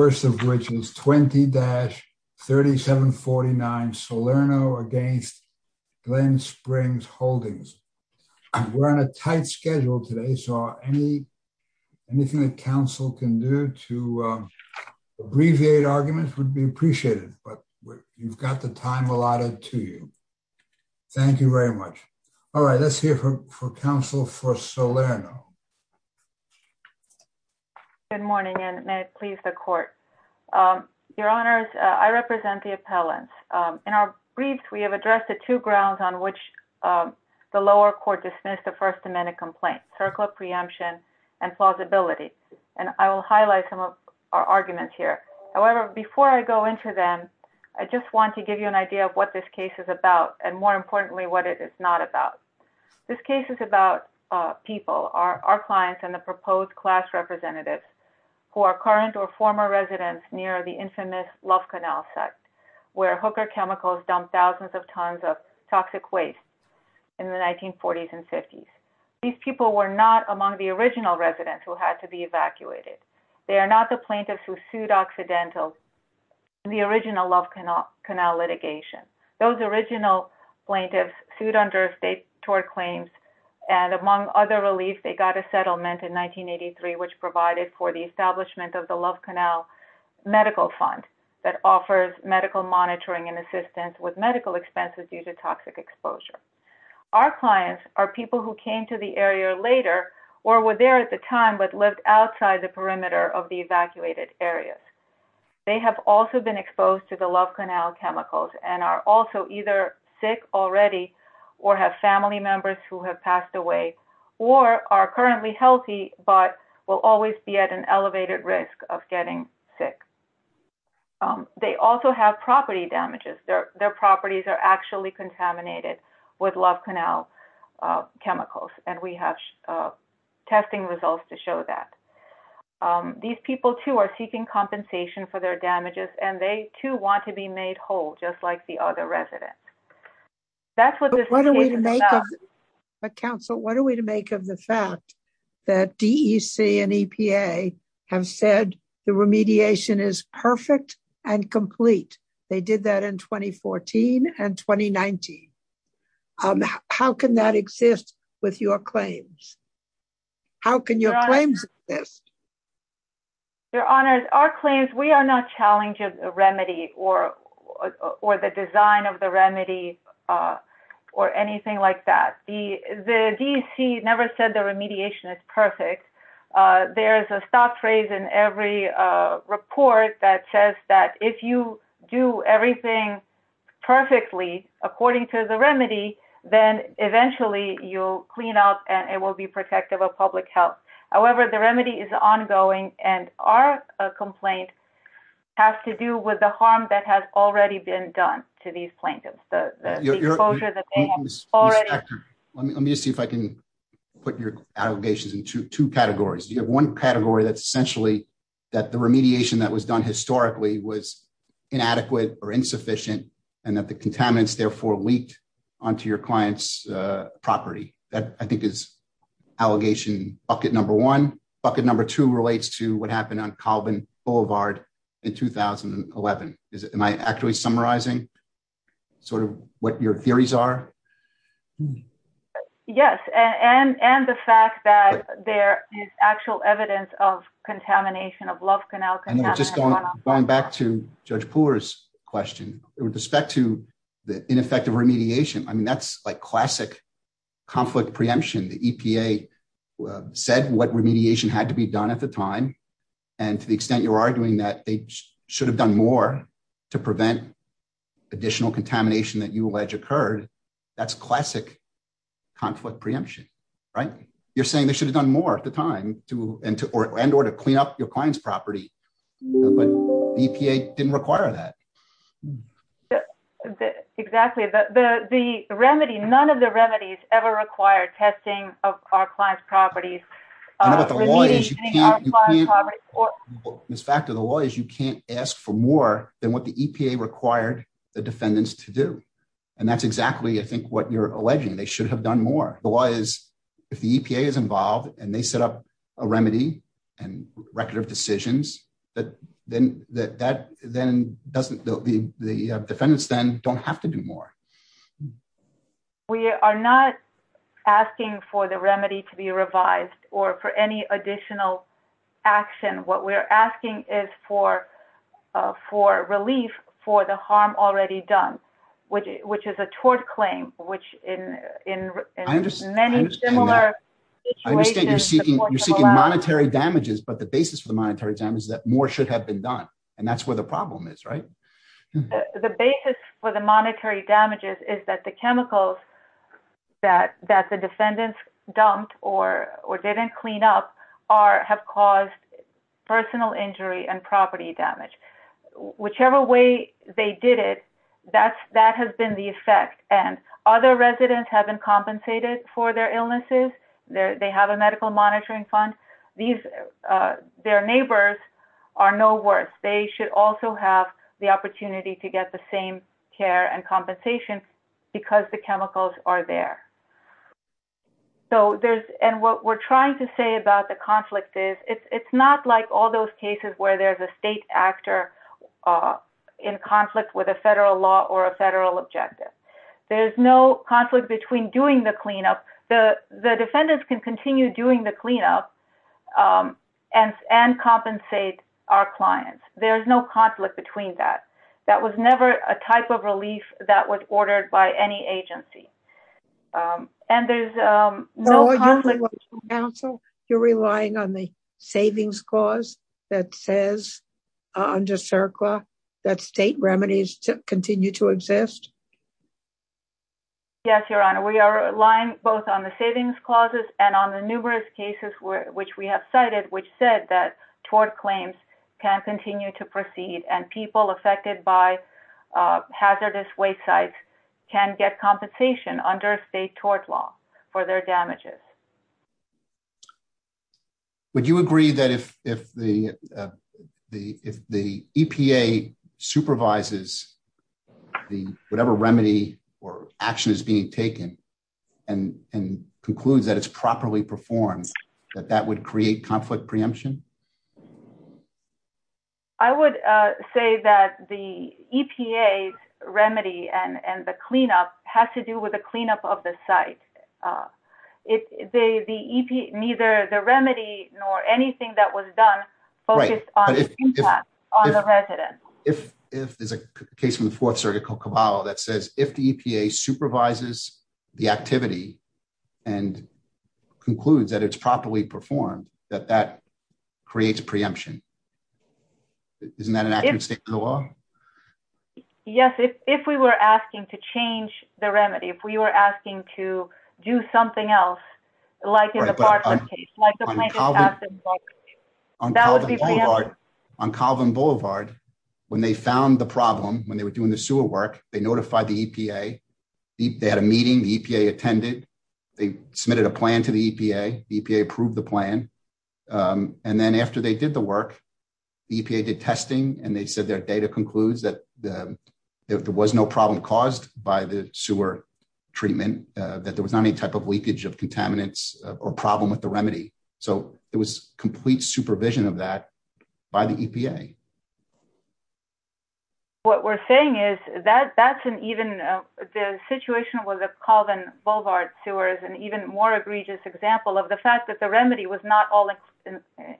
which is 20-3749 Solerno against Glenn Springs Holdings. We're on a tight schedule today, so anything that council can do to abbreviate arguments would be appreciated, but you've got the time allotted to you. Thank you very much. All right, let's hear from council for Solerno. Good morning, and may it please the court. Your honors, I represent the appellants. In our briefs, we have addressed the two grounds on which the lower court dismissed the First Amendment complaint, circle of preemption and plausibility. And I will highlight some of our arguments here. However, before I go into them, I just want to give you an idea of what this case is about, and more importantly, what it is not about. This case is about people, our clients and the proposed class representatives who are current or former residents near the infamous Love Canal site, where hooker chemicals dumped thousands of tons of toxic waste in the 1940s and 50s. These people were not among the original residents who had to be evacuated. They are not the plaintiffs who sued accidentally in the original Love Canal litigation. Those original plaintiffs sued under state tort claims, and among other relief, they got a settlement in 1983, which provided for the establishment of the Love Canal Medical Fund that offers medical monitoring and assistance with medical expenses due to toxic exposure. Our clients are people who came to the area later or were there at the time, but lived outside the perimeter of the evacuated areas. They have also been exposed to the Love Canal chemicals and are also either sick already, or have family members who have passed away, or are currently healthy, but will always be at an elevated risk of getting sick. They also have property damages. Their properties are actually contaminated with Love Canal chemicals, and we have testing results to show that. These people too are seeking compensation for their damages, and they too want to be made whole, just like the other residents. That's what this case is about. But counsel, what are we to make of the fact that DEC and EPA have said the remediation is perfect and complete? They did that in 2014 and 2019. How can that exist with your claims? How can your claims exist? Your honors, our claims, we are not challenging the remedy or the design of the remedy or anything like that. The DEC never said the remediation is perfect. There is a stop phrase in every report that says that if you do everything perfectly according to the remedy, then eventually you'll clean up and it will be protective of public health. However, the remedy is ongoing, and our complaint has to do with the harm that has already been done to these plaintiffs. The exposure that they have already- Let me just see if I can put your allegations in two categories. You have one category that's essentially that the remediation that was done historically was inadequate or insufficient, and that the contaminants therefore leaked onto your client's property. That, I think, is allegation bucket number one. Bucket number two relates to what happened on Colvin Boulevard in 2011. Am I actually summarizing sort of what your theories are? Yes, and the fact that there is actual evidence of contamination, of Love Canal- And then just going back to Judge Pooler's question, with respect to the ineffective remediation, I mean, that's like classic conflict preemption. The EPA said what remediation had to be done at the time, and to the extent you're arguing that they should have done more to prevent additional contamination that you allege occurred, that's classic conflict preemption, right? You're saying they should have done more at the time and or to clean up your client's property, but the EPA didn't require that. Exactly, but the remedy, none of the remedies ever required testing of our client's properties. I know, but the law is you can't- Remediating our client's property or- Ms. Factor, the law is you can't ask for more than what the EPA required the defendants to do. And that's exactly, I think, what you're alleging. They should have done more. The law is, if the EPA is involved and they set up a remedy and record of decisions, then the defendants then don't have to do more. We are not asking for the remedy to be revised or for any additional action. What we're asking is for relief for the harm already done, which is a tort claim, which in many similar situations- I understand you're seeking monetary damages, but the basis for the monetary damage is that more should have been done. And that's where the problem is, right? The basis for the monetary damages is that the chemicals that the defendants dumped or didn't clean up have caused personal injury and property damage. Whichever way they did it, that has been the effect. And other residents have been compensated for their illnesses. They have a medical monitoring fund. These, their neighbors are no worse. They should also have the opportunity to get the same care and compensation because the chemicals are there. So there's, and what we're trying to say about the conflict is, it's not like all those cases where there's a state actor in conflict with a federal law or a federal objective. There's no conflict between doing the cleanup. The defendants can continue doing the cleanup and compensate our clients. There's no conflict between that. That was never a type of relief that was ordered by any agency. And there's no conflict- No, you're relying on the council? You're relying on the savings clause that says under CERCLA that state remedies continue to exist? Yes, Your Honor. We are relying both on the savings clauses and on the numerous cases which we have cited, which said that tort claims can continue to proceed and people affected by hazardous waste sites can get compensation under state tort law for their damages. Would you agree that if the EPA supervises whatever remedy or action is being taken and concludes that it's properly performed, that that would create conflict preemption? I would say that the EPA's remedy and the cleanup has to do with the cleanup of the site. Neither the remedy nor anything that was done focused on the impact on the residents. If there's a case from the fourth circuit called Caballo that says if the EPA supervises the activity and concludes that it's properly performed, that that creates preemption. Isn't that an accurate statement of the law? Yes, if we were asking to change the remedy, if we were asking to do something else, like in the Bartlett case, like the plaintiff's absence bargain, that would be preemptive. On Calvin Boulevard, when they found the problem, when they were doing the sewer work, they notified the EPA, they had a meeting, the EPA attended, they submitted a plan to the EPA, the EPA approved the plan. And then after they did the work, the EPA did testing and they said their data concludes that there was no problem caused by the sewer treatment, that there was not any type of leakage of contaminants or problem with the remedy. So it was complete supervision of that by the EPA. What we're saying is that that's an even, the situation with the Calvin Boulevard sewer is an even more egregious example of the fact that the remedy was not all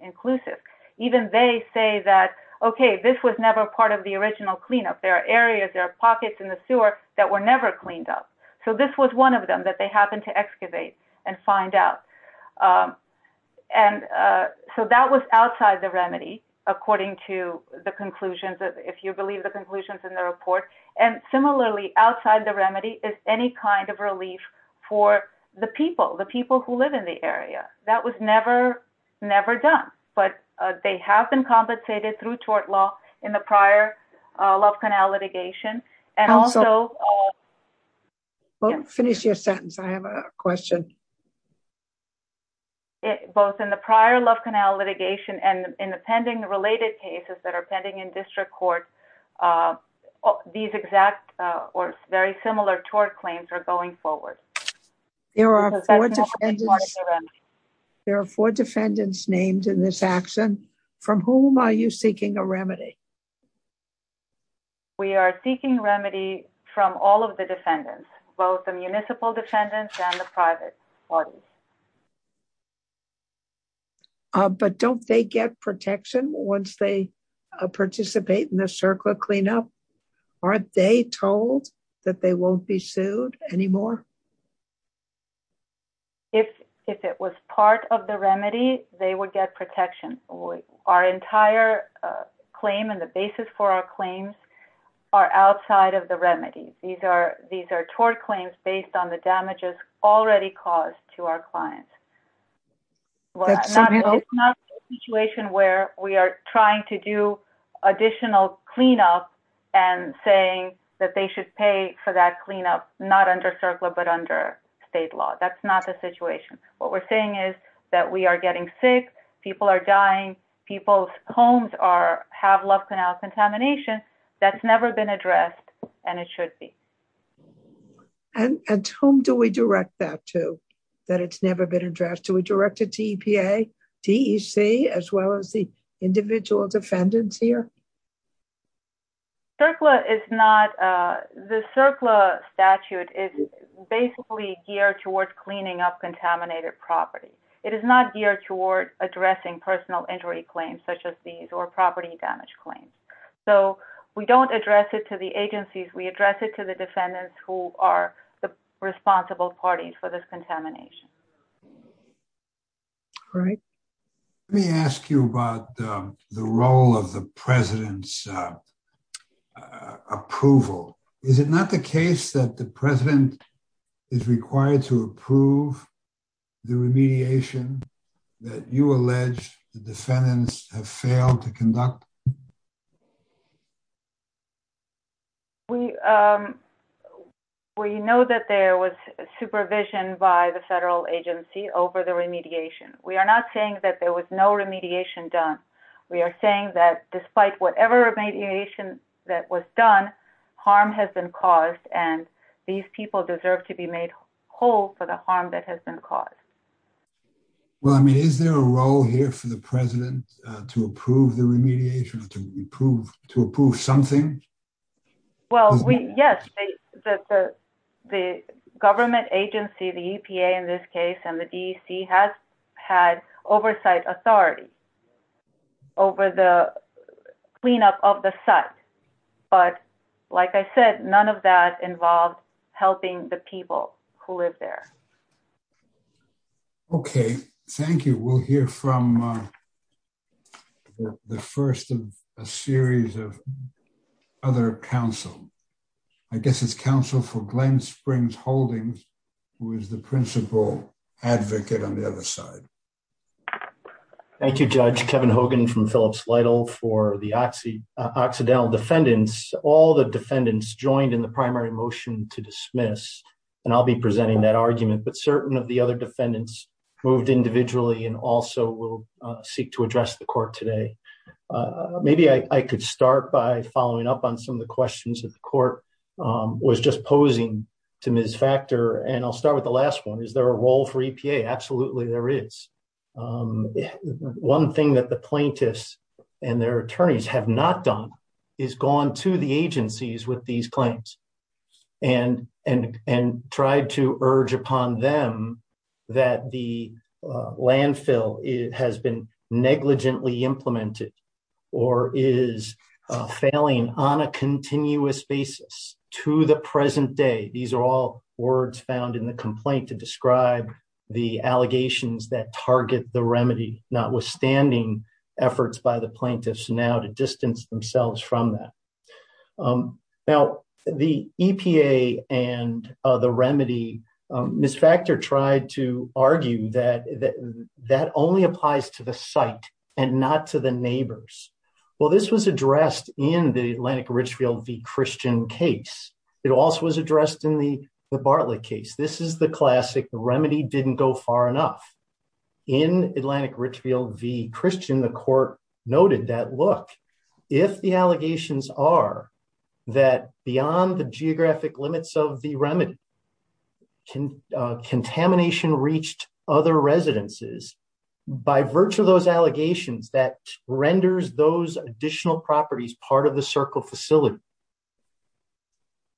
inclusive. Even they say that, okay, this was never part of the original cleanup. There are areas, there are pockets in the sewer that were never cleaned up. So this was one of them that they happened to excavate and find out. And so that was outside the remedy, according to the conclusions, if you believe the conclusions in the report. And similarly, outside the remedy is any kind of relief for the people, the people who live in the area. That was never, never done, but they have been compensated through tort law in the prior Love Canal litigation. And also- Well, finish your sentence. I have a question. Both in the prior Love Canal litigation and in the pending related cases that are pending in district court, these exact or very similar tort claims are going forward. There are four defendants named in this action. From whom are you seeking a remedy? We are seeking remedy from all of the defendants, both the municipal defendants and the private. All right. But don't they get protection once they participate in the circle of cleanup? Aren't they told that they won't be sued anymore? If it was part of the remedy, they would get protection. Our entire claim and the basis for our claims are outside of the remedy. These are tort claims based on the damages already caused to our clients. Well, it's not a situation where we are trying to do additional cleanup and saying that they should pay for that cleanup, not under circular, but under state law. That's not the situation. What we're saying is that we are getting sick. People are dying. People's homes have Love Canal contamination. That's never been addressed and it should be. And to whom do we direct that to, that it's never been addressed? Do we direct it to EPA, DEC, as well as the individual defendants here? CERCLA is not... The CERCLA statute is basically geared towards cleaning up contaminated property. It is not geared toward addressing personal injury claims such as these or property damage claims. So we don't address it to the agencies. We address it to the defendants who are the responsible parties for this contamination. Great. Let me ask you about the role of the president's approval. Is it not the case that the president is required to approve the remediation that you allege the defendants have failed to conduct? We know that there was supervision by the federal agency over the remediation. We are not saying that there was no remediation done. We are saying that despite whatever remediation that was done, harm has been caused and these people deserve to be made whole for the harm that has been caused. Well, I mean, is there a role here for the president to approve the remediation? To approve something? Well, yes, the government agency, the EPA in this case and the DEC has had oversight authority over the cleanup of the site. But like I said, none of that involved helping the people who live there. Okay, thank you. We'll hear from the first of a series of other counsel. I guess it's counsel for Glenn Springs Holdings who is the principal advocate on the other side. Thank you, Judge. Kevin Hogan from Phillips Lytle for the Occidental Defendants. All the defendants joined in the primary motion to dismiss and I'll be presenting that argument but certain of the other defendants moved individually and also will seek to address the court today. Maybe I could start by following up on some of the questions that the court was just posing to Ms. Factor and I'll start with the last one. Is there a role for EPA? Absolutely there is. One thing that the plaintiffs and their attorneys have not done is gone to the agencies with these claims and tried to urge upon them that the landfill has been negligently implemented or is failing on a continuous basis to the present day. These are all words found in the complaint to describe the allegations that target the remedy notwithstanding efforts by the plaintiffs now to distance themselves from that. Now, the EPA and the remedy, Ms. Factor tried to argue that that only applies to the site and not to the neighbors. Well, this was addressed in the Atlantic Richfield v. Christian case. It also was addressed in the Bartlett case. This is the classic remedy didn't go far enough. In Atlantic Richfield v. Christian, the court noted that look, if the allegations are that beyond the geographic limits of the remedy, contamination reached other residences by virtue of those allegations that renders those additional properties part of the circle facility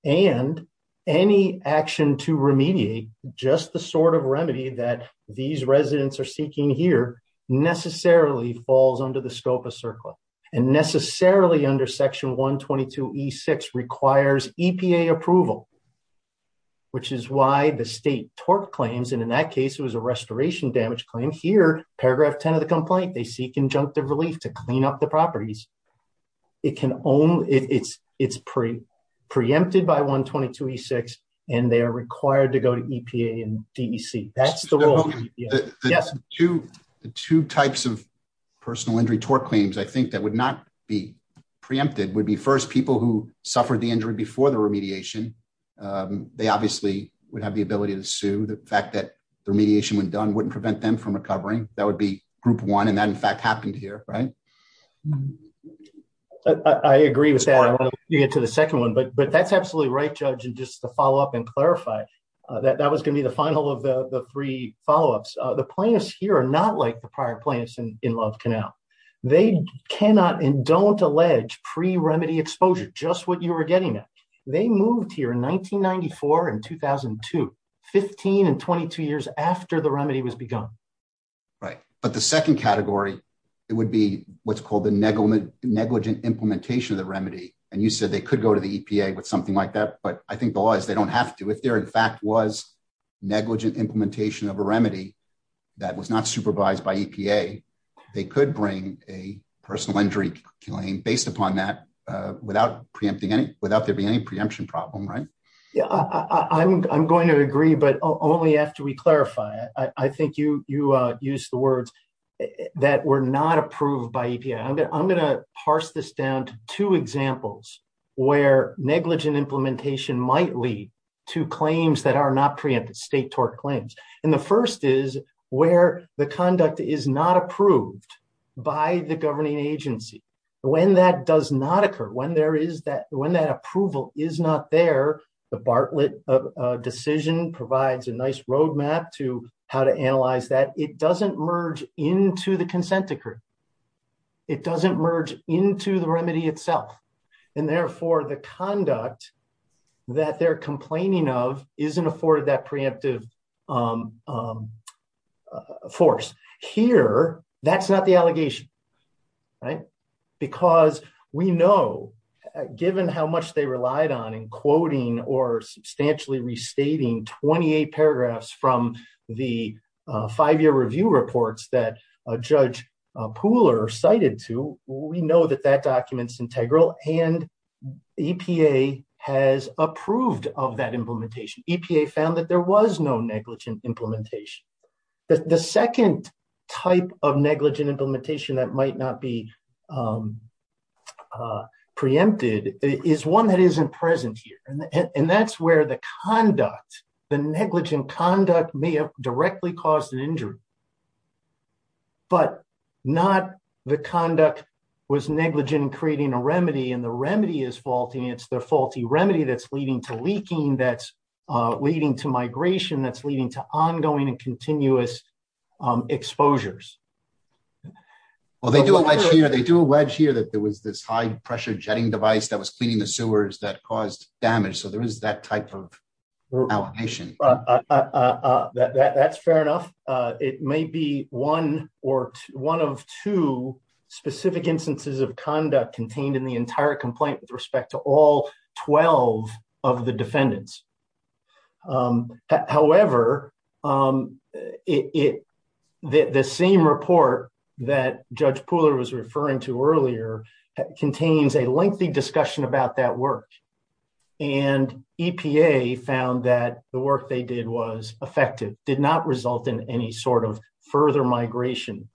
and any action to remediate just the sort of remedy that these residents are seeking here necessarily falls under the scope of CERCLA and necessarily under section 122E6 requires EPA approval which is why the state tort claims. And in that case, it was a restoration damage claim. Here, paragraph 10 of the complaint, they seek injunctive relief to clean up the properties. It can only, it's preempted by 122E6 and they are required to go to EPA and DEC. That's the rule. Yes. The two types of personal injury tort claims I think that would not be preempted would be first people who suffered the injury before the remediation. They obviously would have the ability to sue. The fact that the remediation when done wouldn't prevent them from recovering. That would be group one. And that in fact happened here, right? I agree with that. You get to the second one, but that's absolutely right, judge. And just to follow up and clarify that that was gonna be the final of the three follow-ups. The plaintiffs here are not like the prior plaintiffs in Love Canal. They cannot and don't allege pre-remedy exposure, just what you were getting at. They moved here in 1994 and 2002, 15 and 22 years after the remedy was begun. Right. But the second category, it would be what's called the negligent implementation of the remedy. And you said they could go to the EPA with something like that, but I think the law is they don't have to. If there in fact was negligent implementation of a remedy that was not supervised by EPA, they could bring a personal injury claim based upon that without preempting any, without there being any preemption problem, right? Yeah, I'm going to agree, but only after we clarify it. I think you used the words that were not approved by EPA. I'm gonna parse this down to two examples where negligent implementation might lead to claims that are not preempted, state tort claims. And the first is where the conduct is not approved by the governing agency. When that does not occur, when there is that, when that approval is not there, the Bartlett decision provides a nice roadmap to how to analyze that. It doesn't merge into the consent decree. It doesn't merge into the remedy itself. And therefore the conduct that they're complaining of isn't afforded that preemptive force. Here, that's not the allegation, right? Because we know given how much they relied on in quoting or substantially restating 28 paragraphs from the five-year review reports that Judge Pooler cited to, we know that that document's integral and EPA has approved of that implementation. EPA found that there was no negligent implementation. The second type of negligent implementation that might not be preempted is one that isn't present here. And that's where the conduct, the negligent conduct may have directly caused an injury, but not the conduct was negligent in creating a remedy and the remedy is faulty. And it's the faulty remedy that's leading to leaking, that's leading to migration, that's leading to ongoing and continuous exposures. Well, they do a wedge here. They do a wedge here that there was this high pressure jetting device that was cleaning the sewers that caused damage. So there is that type of allegation. That's fair enough. It may be one or one of two specific instances of conduct contained in the entire complaint with respect to all 12 of the defendants. However, the same report that Judge Pooler cited was referring to earlier, contains a lengthy discussion about that work. And EPA found that the work they did was effective, did not result in any sort of further migration.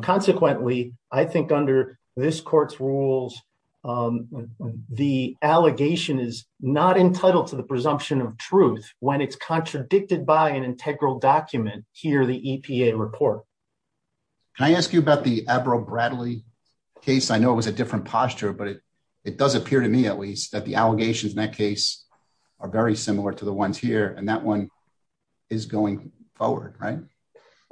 Consequently, I think under this court's rules, the allegation is not entitled to the presumption of truth when it's contradicted by an integral document here, the EPA report. Can I ask you about the Avril Bradley case? I know it was a different posture, but it does appear to me at least that the allegations in that case are very similar to the ones here. And that one is going forward, right?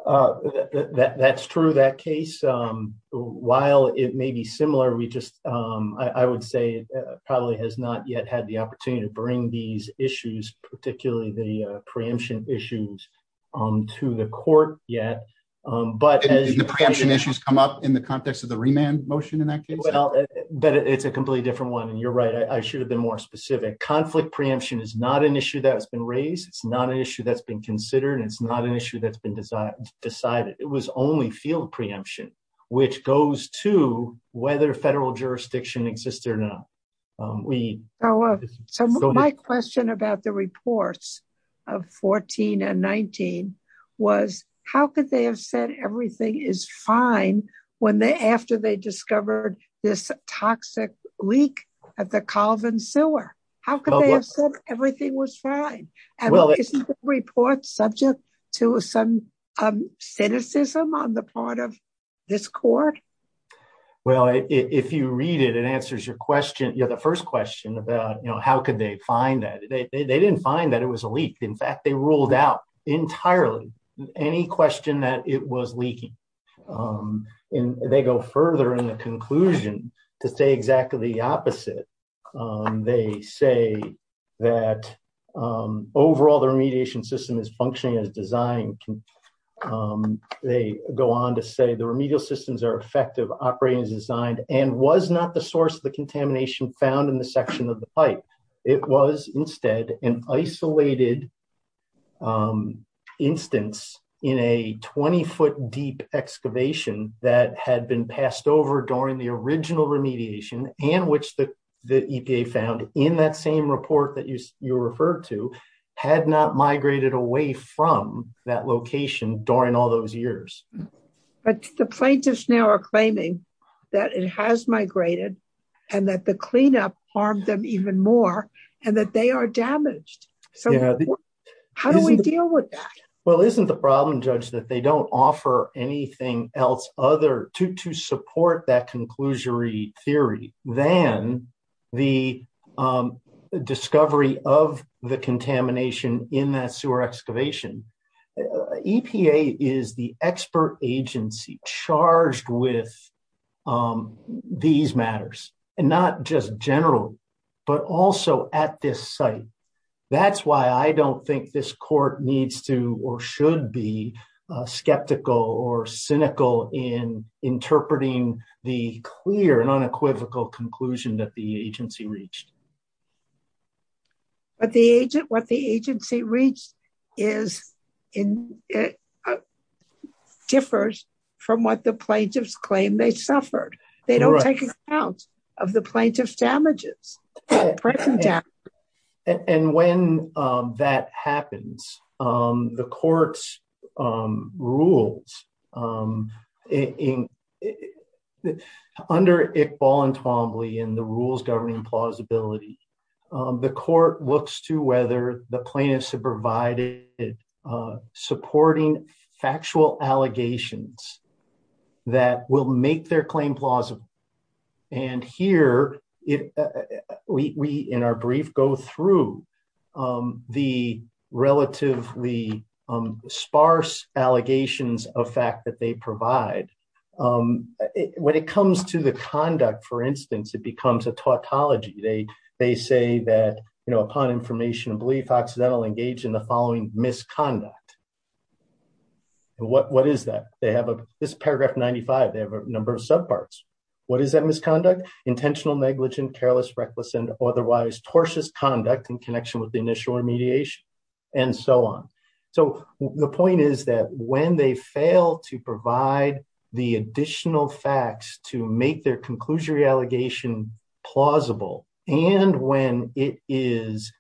That's true. That case, while it may be similar, we just, I would say, probably has not yet had the opportunity to bring these issues, particularly the preemption issues to the court yet. But- Did the preemption issues come up in the context of the remand motion in that case? But it's a completely different one. And you're right. I should have been more specific. Conflict preemption is not an issue that has been raised. It's not an issue that's been considered. And it's not an issue that's been decided. It was only field preemption, which goes to whether federal jurisdiction exists or not. So my question about the reports of 14 and 19 was how could they have said everything is fine when they, after they discovered this toxic leak at the Colvin sewer? How could they have said everything was fine? And isn't the report subject to some cynicism on the part of this court? Well, if you read it, it answers your question. You know, the first question about, you know, how could they find that? They didn't find that it was a leak. In fact, they ruled out entirely any question that it was leaking. And they go further in the conclusion to say exactly the opposite. They say that overall the remediation system is functioning as designed. They go on to say the remedial systems are effective, operating as designed, and was not the source of the contamination found in the section of the pipe. It was instead an isolated instance in a 20 foot deep excavation that had been passed over during the original remediation and which the EPA found in that same report that you referred to had not migrated away from that location during all those years. But the plaintiffs now are claiming that it has migrated and that the cleanup harmed them even more and that they are damaged. So how do we deal with that? Well, isn't the problem, Judge, that they don't offer anything else other to support that conclusory theory than the discovery of the contamination in that sewer excavation? EPA is the expert agency charged with these matters. And not just general, but also at this site. That's why I don't think this court needs to or should be skeptical or cynical in interpreting the clear and unequivocal conclusion that the agency reached. But the agent, what the agency reached differs from what the plaintiffs claim they suffered. They don't take account of the plaintiff's damages. And when that happens, the court's rules, under Iqbal and Twombly and the rules governing plausibility, the court looks to whether the plaintiffs have provided supporting factual allegations that will make their claim plausible. And here, we, in our brief, go through the relatively sparse allegations of fact that they provide. When it comes to the conduct, for instance, it becomes a tautology. They say that, you know, upon information of belief, accidentally engaged in the following misconduct. What is that? This is paragraph 95. They have a number of subparts. What is that misconduct? Intentional negligent, careless, reckless, and otherwise tortious conduct in connection with the initial remediation, and so on. So the point is that when they fail to provide the additional facts to make their conclusory allegation plausible, and when it is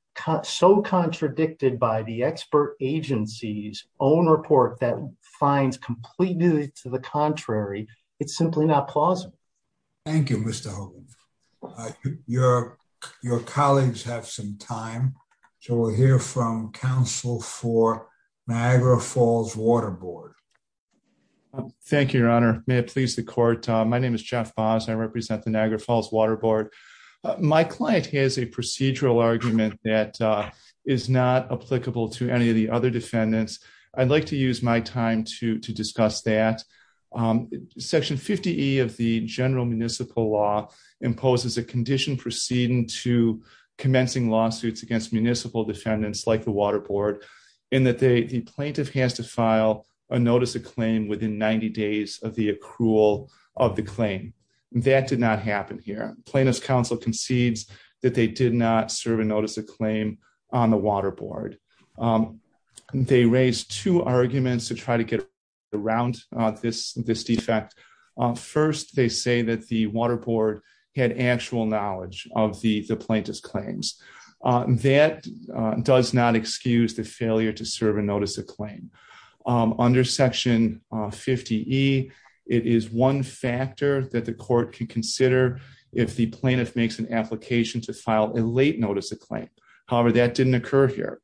so contradicted by the expert agency's own report that finds completeness to the contrary, it's simply not plausible. Thank you, Mr. Hogan. Your colleagues have some time. So we'll hear from counsel for Niagara Falls Water Board. Thank you, Your Honor. May it please the court. My name is Jeff Boss. I represent the Niagara Falls Water Board. My client has a procedural argument that is not applicable to any of the other defendants. I'd like to use my time to discuss that. Section 50E of the general municipal law imposes a condition proceeding to commencing lawsuits against municipal defendants like the Water Board in that the plaintiff has to file a notice of claim within 90 days of the accrual of the claim. That did not happen here. Plaintiff's counsel concedes that they did not serve a notice of claim on the Water Board. They raised two arguments to try to get around this defect. First, they say that the Water Board had actual knowledge of the plaintiff's claims. That does not excuse the failure to serve a notice of claim. Under section 50E, it is one factor that the court can consider if the plaintiff makes an application to file a late notice of claim. However, that didn't occur here.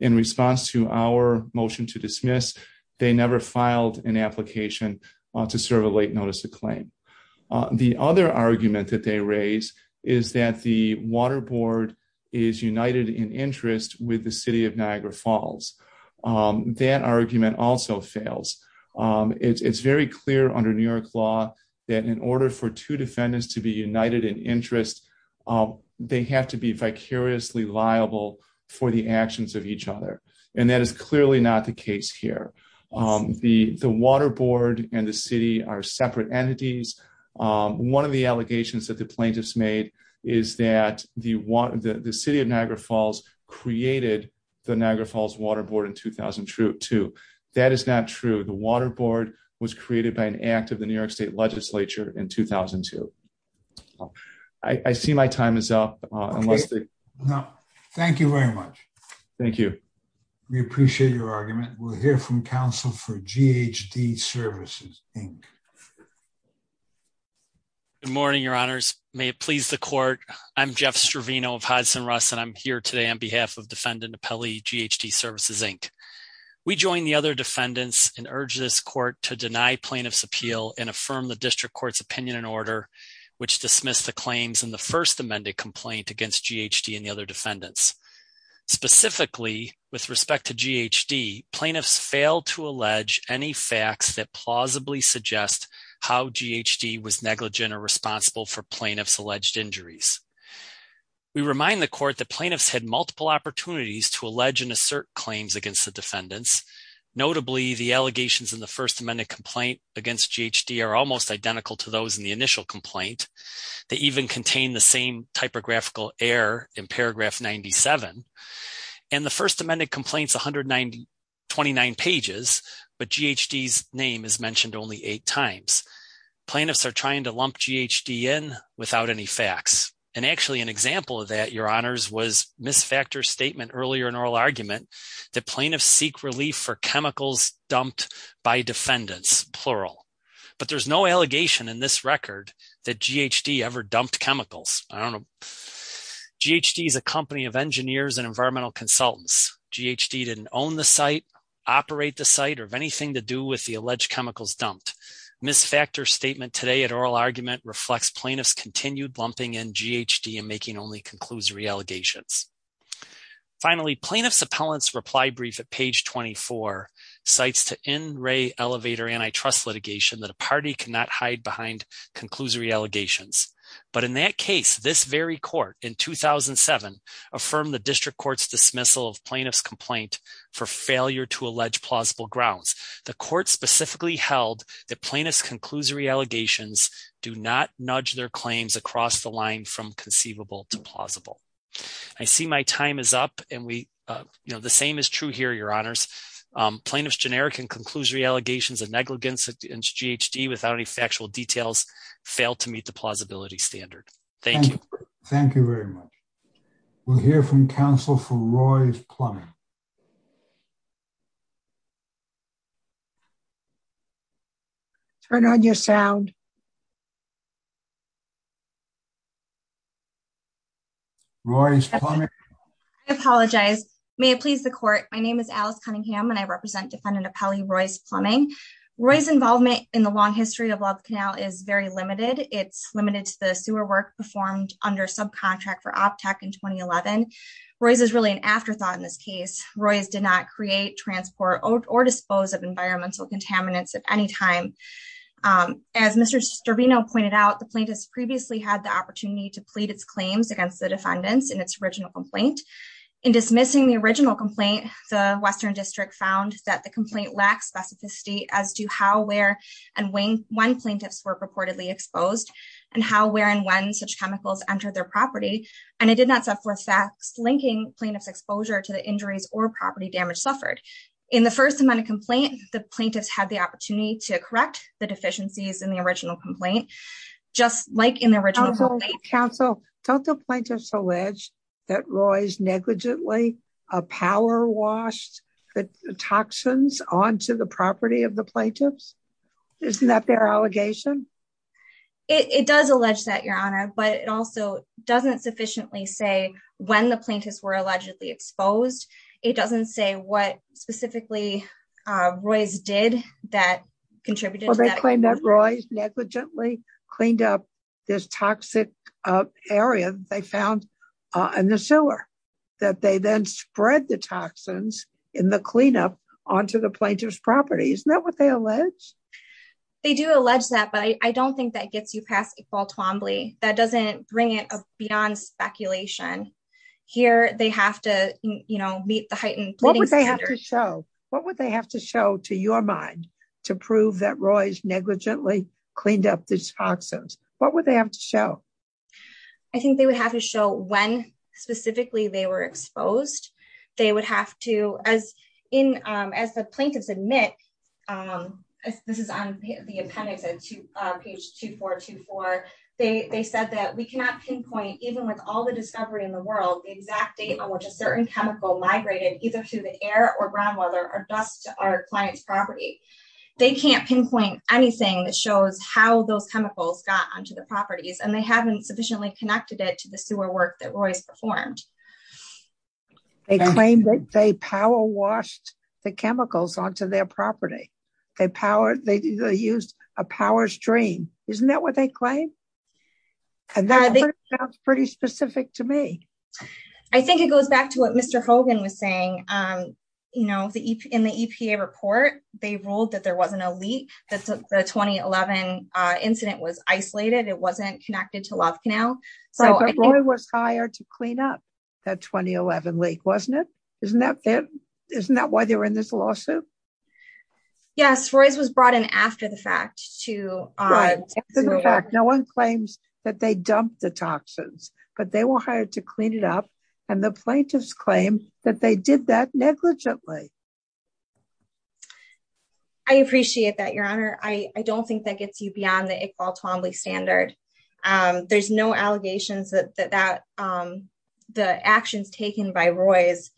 In response to our motion to dismiss, they never filed an application to serve a late notice of claim. The other argument that they raise is that the Water Board is united in interest with the city of Niagara Falls. That argument also fails. It's very clear under New York law that in order for two defendants to be united in interest, they have to be vicariously liable for the actions of each other. And that is clearly not the case here. The Water Board and the city are separate entities. One of the allegations that the plaintiffs made is that the city of Niagara Falls created the Niagara Falls Water Board in 2002. That is not true. The Water Board was created by an act of the New York State legislature in 2002. I see my time is up. Unless they- No, thank you very much. Thank you. We appreciate your argument. We'll hear from counsel for GHD Services, Inc. Good morning, your honors. May it please the court. I'm Jeff Stravino of Hodson Russ, and I'm here today on behalf of defendant of Pelley GHD Services, Inc. We join the other defendants and urge this court to deny plaintiff's appeal and affirm the district court's opinion and order, which dismissed the claims in the first amended complaint against GHD and the other defendants. Specifically, with respect to GHD, plaintiffs failed to allege any facts that plausibly suggest how GHD was negligent or responsible for plaintiff's alleged injuries. We remind the court that plaintiffs had multiple opportunities to allege and assert claims against the defendants. Notably, the allegations in the first amended complaint against GHD are almost identical to those in the initial complaint. They even contain the same typographical error in paragraph 97. And the first amended complaint's 129 pages, but GHD's name is mentioned only eight times. Plaintiffs are trying to lump GHD in without any facts. And actually an example of that, your honors, was misfactor statement earlier in oral argument that plaintiffs seek relief for chemicals dumped by defendants, plural. But there's no allegation in this record that GHD ever dumped chemicals. I don't know. GHD is a company of engineers and environmental consultants. GHD didn't own the site, operate the site, or have anything to do with the alleged chemicals dumped. Misfactor statement today at oral argument reflects plaintiff's continued lumping in GHD and making only conclusory allegations. Finally, plaintiff's appellant's reply brief at page 24 cites to in-ray elevator antitrust litigation that a party cannot hide behind conclusory allegations. But in that case, this very court in 2007 affirmed the district court's dismissal of plaintiff's complaint for failure to allege plausible grounds. The court specifically held that plaintiff's conclusory allegations do not nudge their claims across the line from conceivable to plausible. I see my time is up and we, you know, the same is true here, your honors. Plaintiff's generic and conclusory allegations of negligence against GHD without any factual details fail to meet the plausibility standard. Thank you. Thank you very much. We'll hear from counsel for Roy Plumbing. Turn on your sound. Roy's Plumbing. I apologize. May it please the court. My name is Alice Cunningham and I represent defendant appellee Roy's Plumbing. Roy's involvement in the long history of Love Canal is very limited. It's limited to the sewer work performed under subcontract for OPTEC in 2011. Roy's is really an afterthought in this case. Roy's did not create, transport or dispose of environmental contaminants at any time. As Mr. Sterbino pointed out, the plaintiff's previously had the opportunity to plead its claims against the defendants in its original complaint. In dismissing the original complaint, the Western District found that the complaint lacks specificity as to how, where and when plaintiffs were purportedly exposed and how, where and when such chemicals entered their property. And it did not set forth facts linking plaintiff's exposure to the injuries or property damage suffered. In the first amendment complaint, the plaintiffs had the opportunity to correct the deficiencies in the original complaint, just like in the original complaint. Counsel, don't the plaintiffs allege that Roy's negligently power washed the toxins onto the property of the plaintiffs? Isn't that their allegation? It does allege that, Your Honor, but it also doesn't sufficiently say when the plaintiffs were allegedly exposed. It doesn't say what specifically Roy's did that contributed to that. It doesn't say that Roy's negligently cleaned up this toxic area they found in the sewer, that they then spread the toxins in the cleanup onto the plaintiff's property. Isn't that what they allege? They do allege that, but I don't think that gets you past Iqbal Twombly. That doesn't bring it beyond speculation. Here, they have to meet the heightened- What would they have to show? What would they have to show to your mind to prove that Roy's negligently cleaned up these toxins? What would they have to show? I think they would have to show when specifically they were exposed. They would have to, as the plaintiffs admit, this is on the appendix, page 2424, they said that we cannot pinpoint, even with all the discovery in the world, the exact date on which a certain chemical migrated either through the air or groundwater or dust to our client's property. They can't pinpoint anything that shows how those chemicals got onto the properties, and they haven't sufficiently connected it to the sewer work that Roy's performed. They claim that they power washed the chemicals onto their property. They used a power stream. Isn't that what they claim? And that sounds pretty specific to me. I think it goes back to what Mr. Hogan was saying. You know, in the EPA report, they ruled that there wasn't a leak, that the 2011 incident was isolated. It wasn't connected to Love Canal. So I think- But Roy was hired to clean up that 2011 leak, wasn't it? Isn't that why they were in this lawsuit? Yes, Roy's was brought in after the fact to- Right, after the fact. No one claims that they dumped the toxins, but they were hired to clean it up. And the plaintiffs claim that they did that negligently. I appreciate that, Your Honor. I don't think that gets you beyond the Iqbal Twombly standard. There's no allegations that the actions taken by Roy's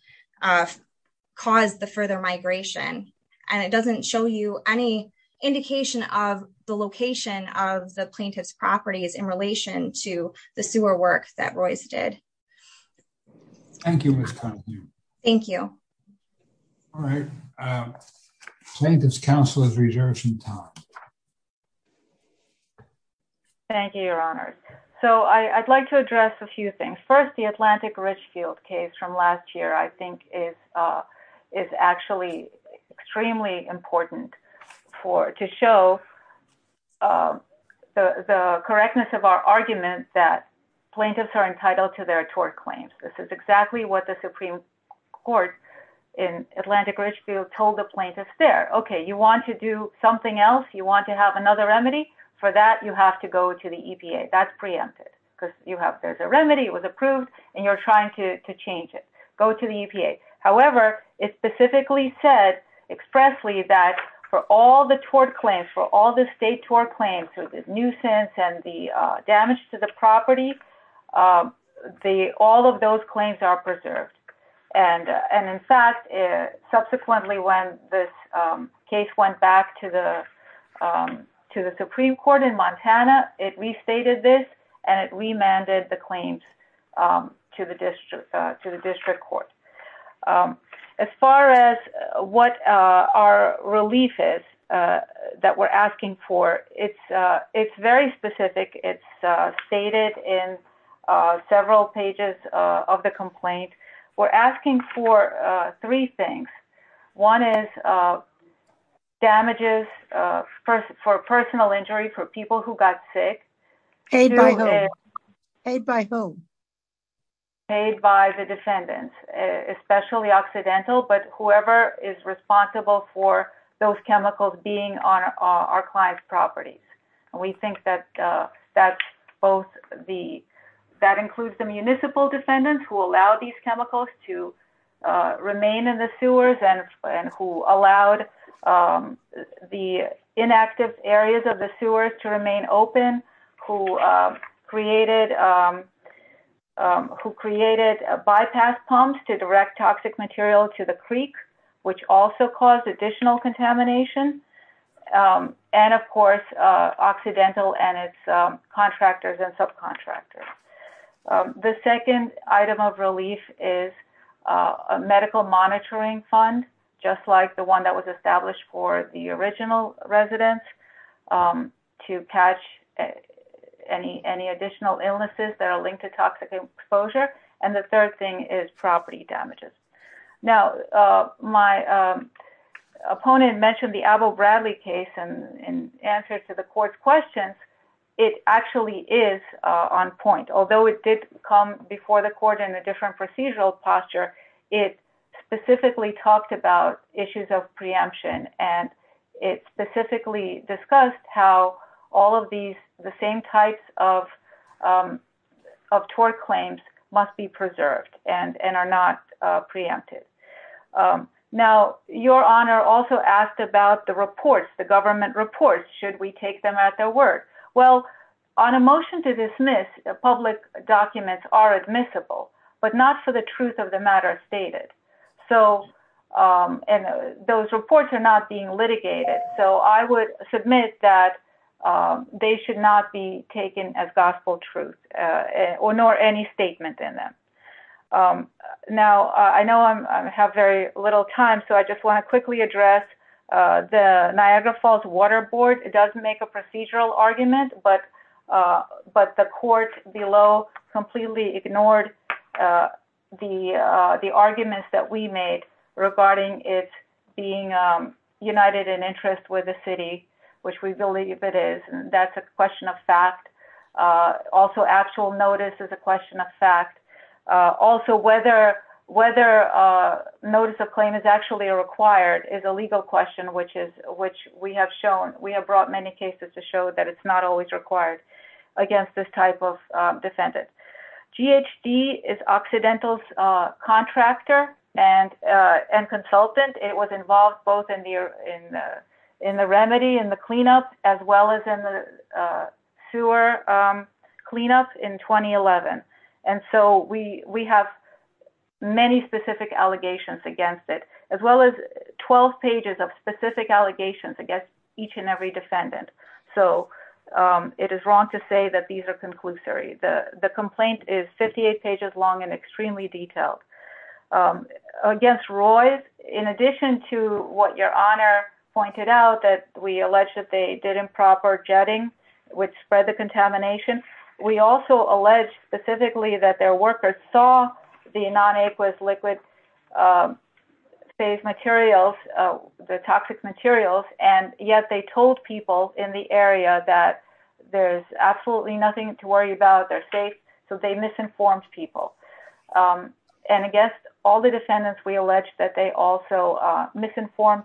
caused the further migration. And it doesn't show you any indication of the location of the plaintiff's properties in relation to the sewer work that Roy's did. Thank you, Ms. Khan. Thank you. All right, Plaintiff's Counsel is reserving time. Thank you, Your Honor. So I'd like to address a few things. First, the Atlantic Ridgefield case from last year, I think is actually extremely important to show the correctness of our argument that plaintiffs are entitled to their tort claims. This is exactly what the Supreme Court in Atlantic Ridgefield told the plaintiffs there. Okay, you want to do something else? You want to have another remedy? For that, you have to go to the EPA. That's preempted. Because there's a remedy, it was approved, and you're trying to change it. Go to the EPA. However, it specifically said expressly that for all the tort claims, for all the state tort claims, so the nuisance and the damage to the property, all of those claims are preserved. And in fact, subsequently, when this case went back to the Supreme Court in Montana, it restated this, and it remanded the claims to the District Court. As far as what our relief is that we're asking for, it's very specific. It's stated in several pages of the complaint. We're asking for three things. One is damages for personal injury for people who got sick. Paid by whom? Paid by whom? Paid by the defendants, especially Occidental, but whoever is responsible for those chemicals being on our client's properties. And we think that's both the, that includes the municipal defendants who allowed these chemicals to remain in the sewers and who allowed the inactive areas of the sewers to remain open, who created bypass pumps to direct toxic material to the creek, which also caused additional contamination. And of course, Occidental and its contractors and subcontractors. The second item of relief is a medical monitoring fund, just like the one that was established for the original residents to catch any additional illnesses that are linked to toxic exposure. Now, my opponent mentioned the outbreak of the double Bradley case in answer to the court's questions, it actually is on point. Although it did come before the court in a different procedural posture, it specifically talked about issues of preemption and it specifically discussed how all of these, the same types of tort claims must be preserved and are not preempted. Now, your honor also asked about the reports, the government reports, should we take them at their word? Well, on a motion to dismiss, public documents are admissible, but not for the truth of the matter stated. So, and those reports are not being litigated. So I would submit that they should not be taken as gospel truth or nor any statement in them. Now, I know I have very little time, so I just wanna quickly address the Niagara Falls Water Board. It does make a procedural argument, but the court below completely ignored the arguments that we made regarding it being united in interest with the city, which we believe it is. That's a question of fact. Also actual notice is a question of fact. Also whether notice of claim is actually required is a legal question, which we have shown, we have brought many cases to show that it's not always required against this type of defendant. GHD is Occidental's contractor and consultant. It was involved both in the remedy and the cleanup, as well as in the sewer cleanup in 2011. And so we have many specific allegations against it, as well as 12 pages of specific allegations against each and every defendant. So it is wrong to say that these are conclusory. The complaint is 58 pages long and extremely detailed. Against Roy's, in addition to what your honor pointed out, that we alleged that they did improper jetting, which spread the contamination. We also alleged specifically that their workers saw the non-aqueous liquid phase materials, the toxic materials. And yet they told people in the area that there's absolutely nothing to worry about. They're safe. So they misinformed people. And I guess all the defendants, we alleged that they also misinformed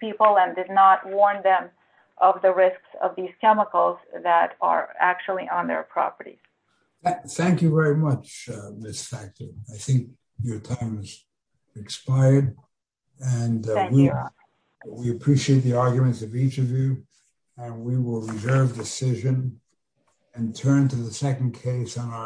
people and did not warn them of the risks of these chemicals that are actually on their property. Thank you very much, Ms. Thacker. I think your time has expired. And we appreciate the arguments of each of you. And we will reserve decision and turn to the second case on our.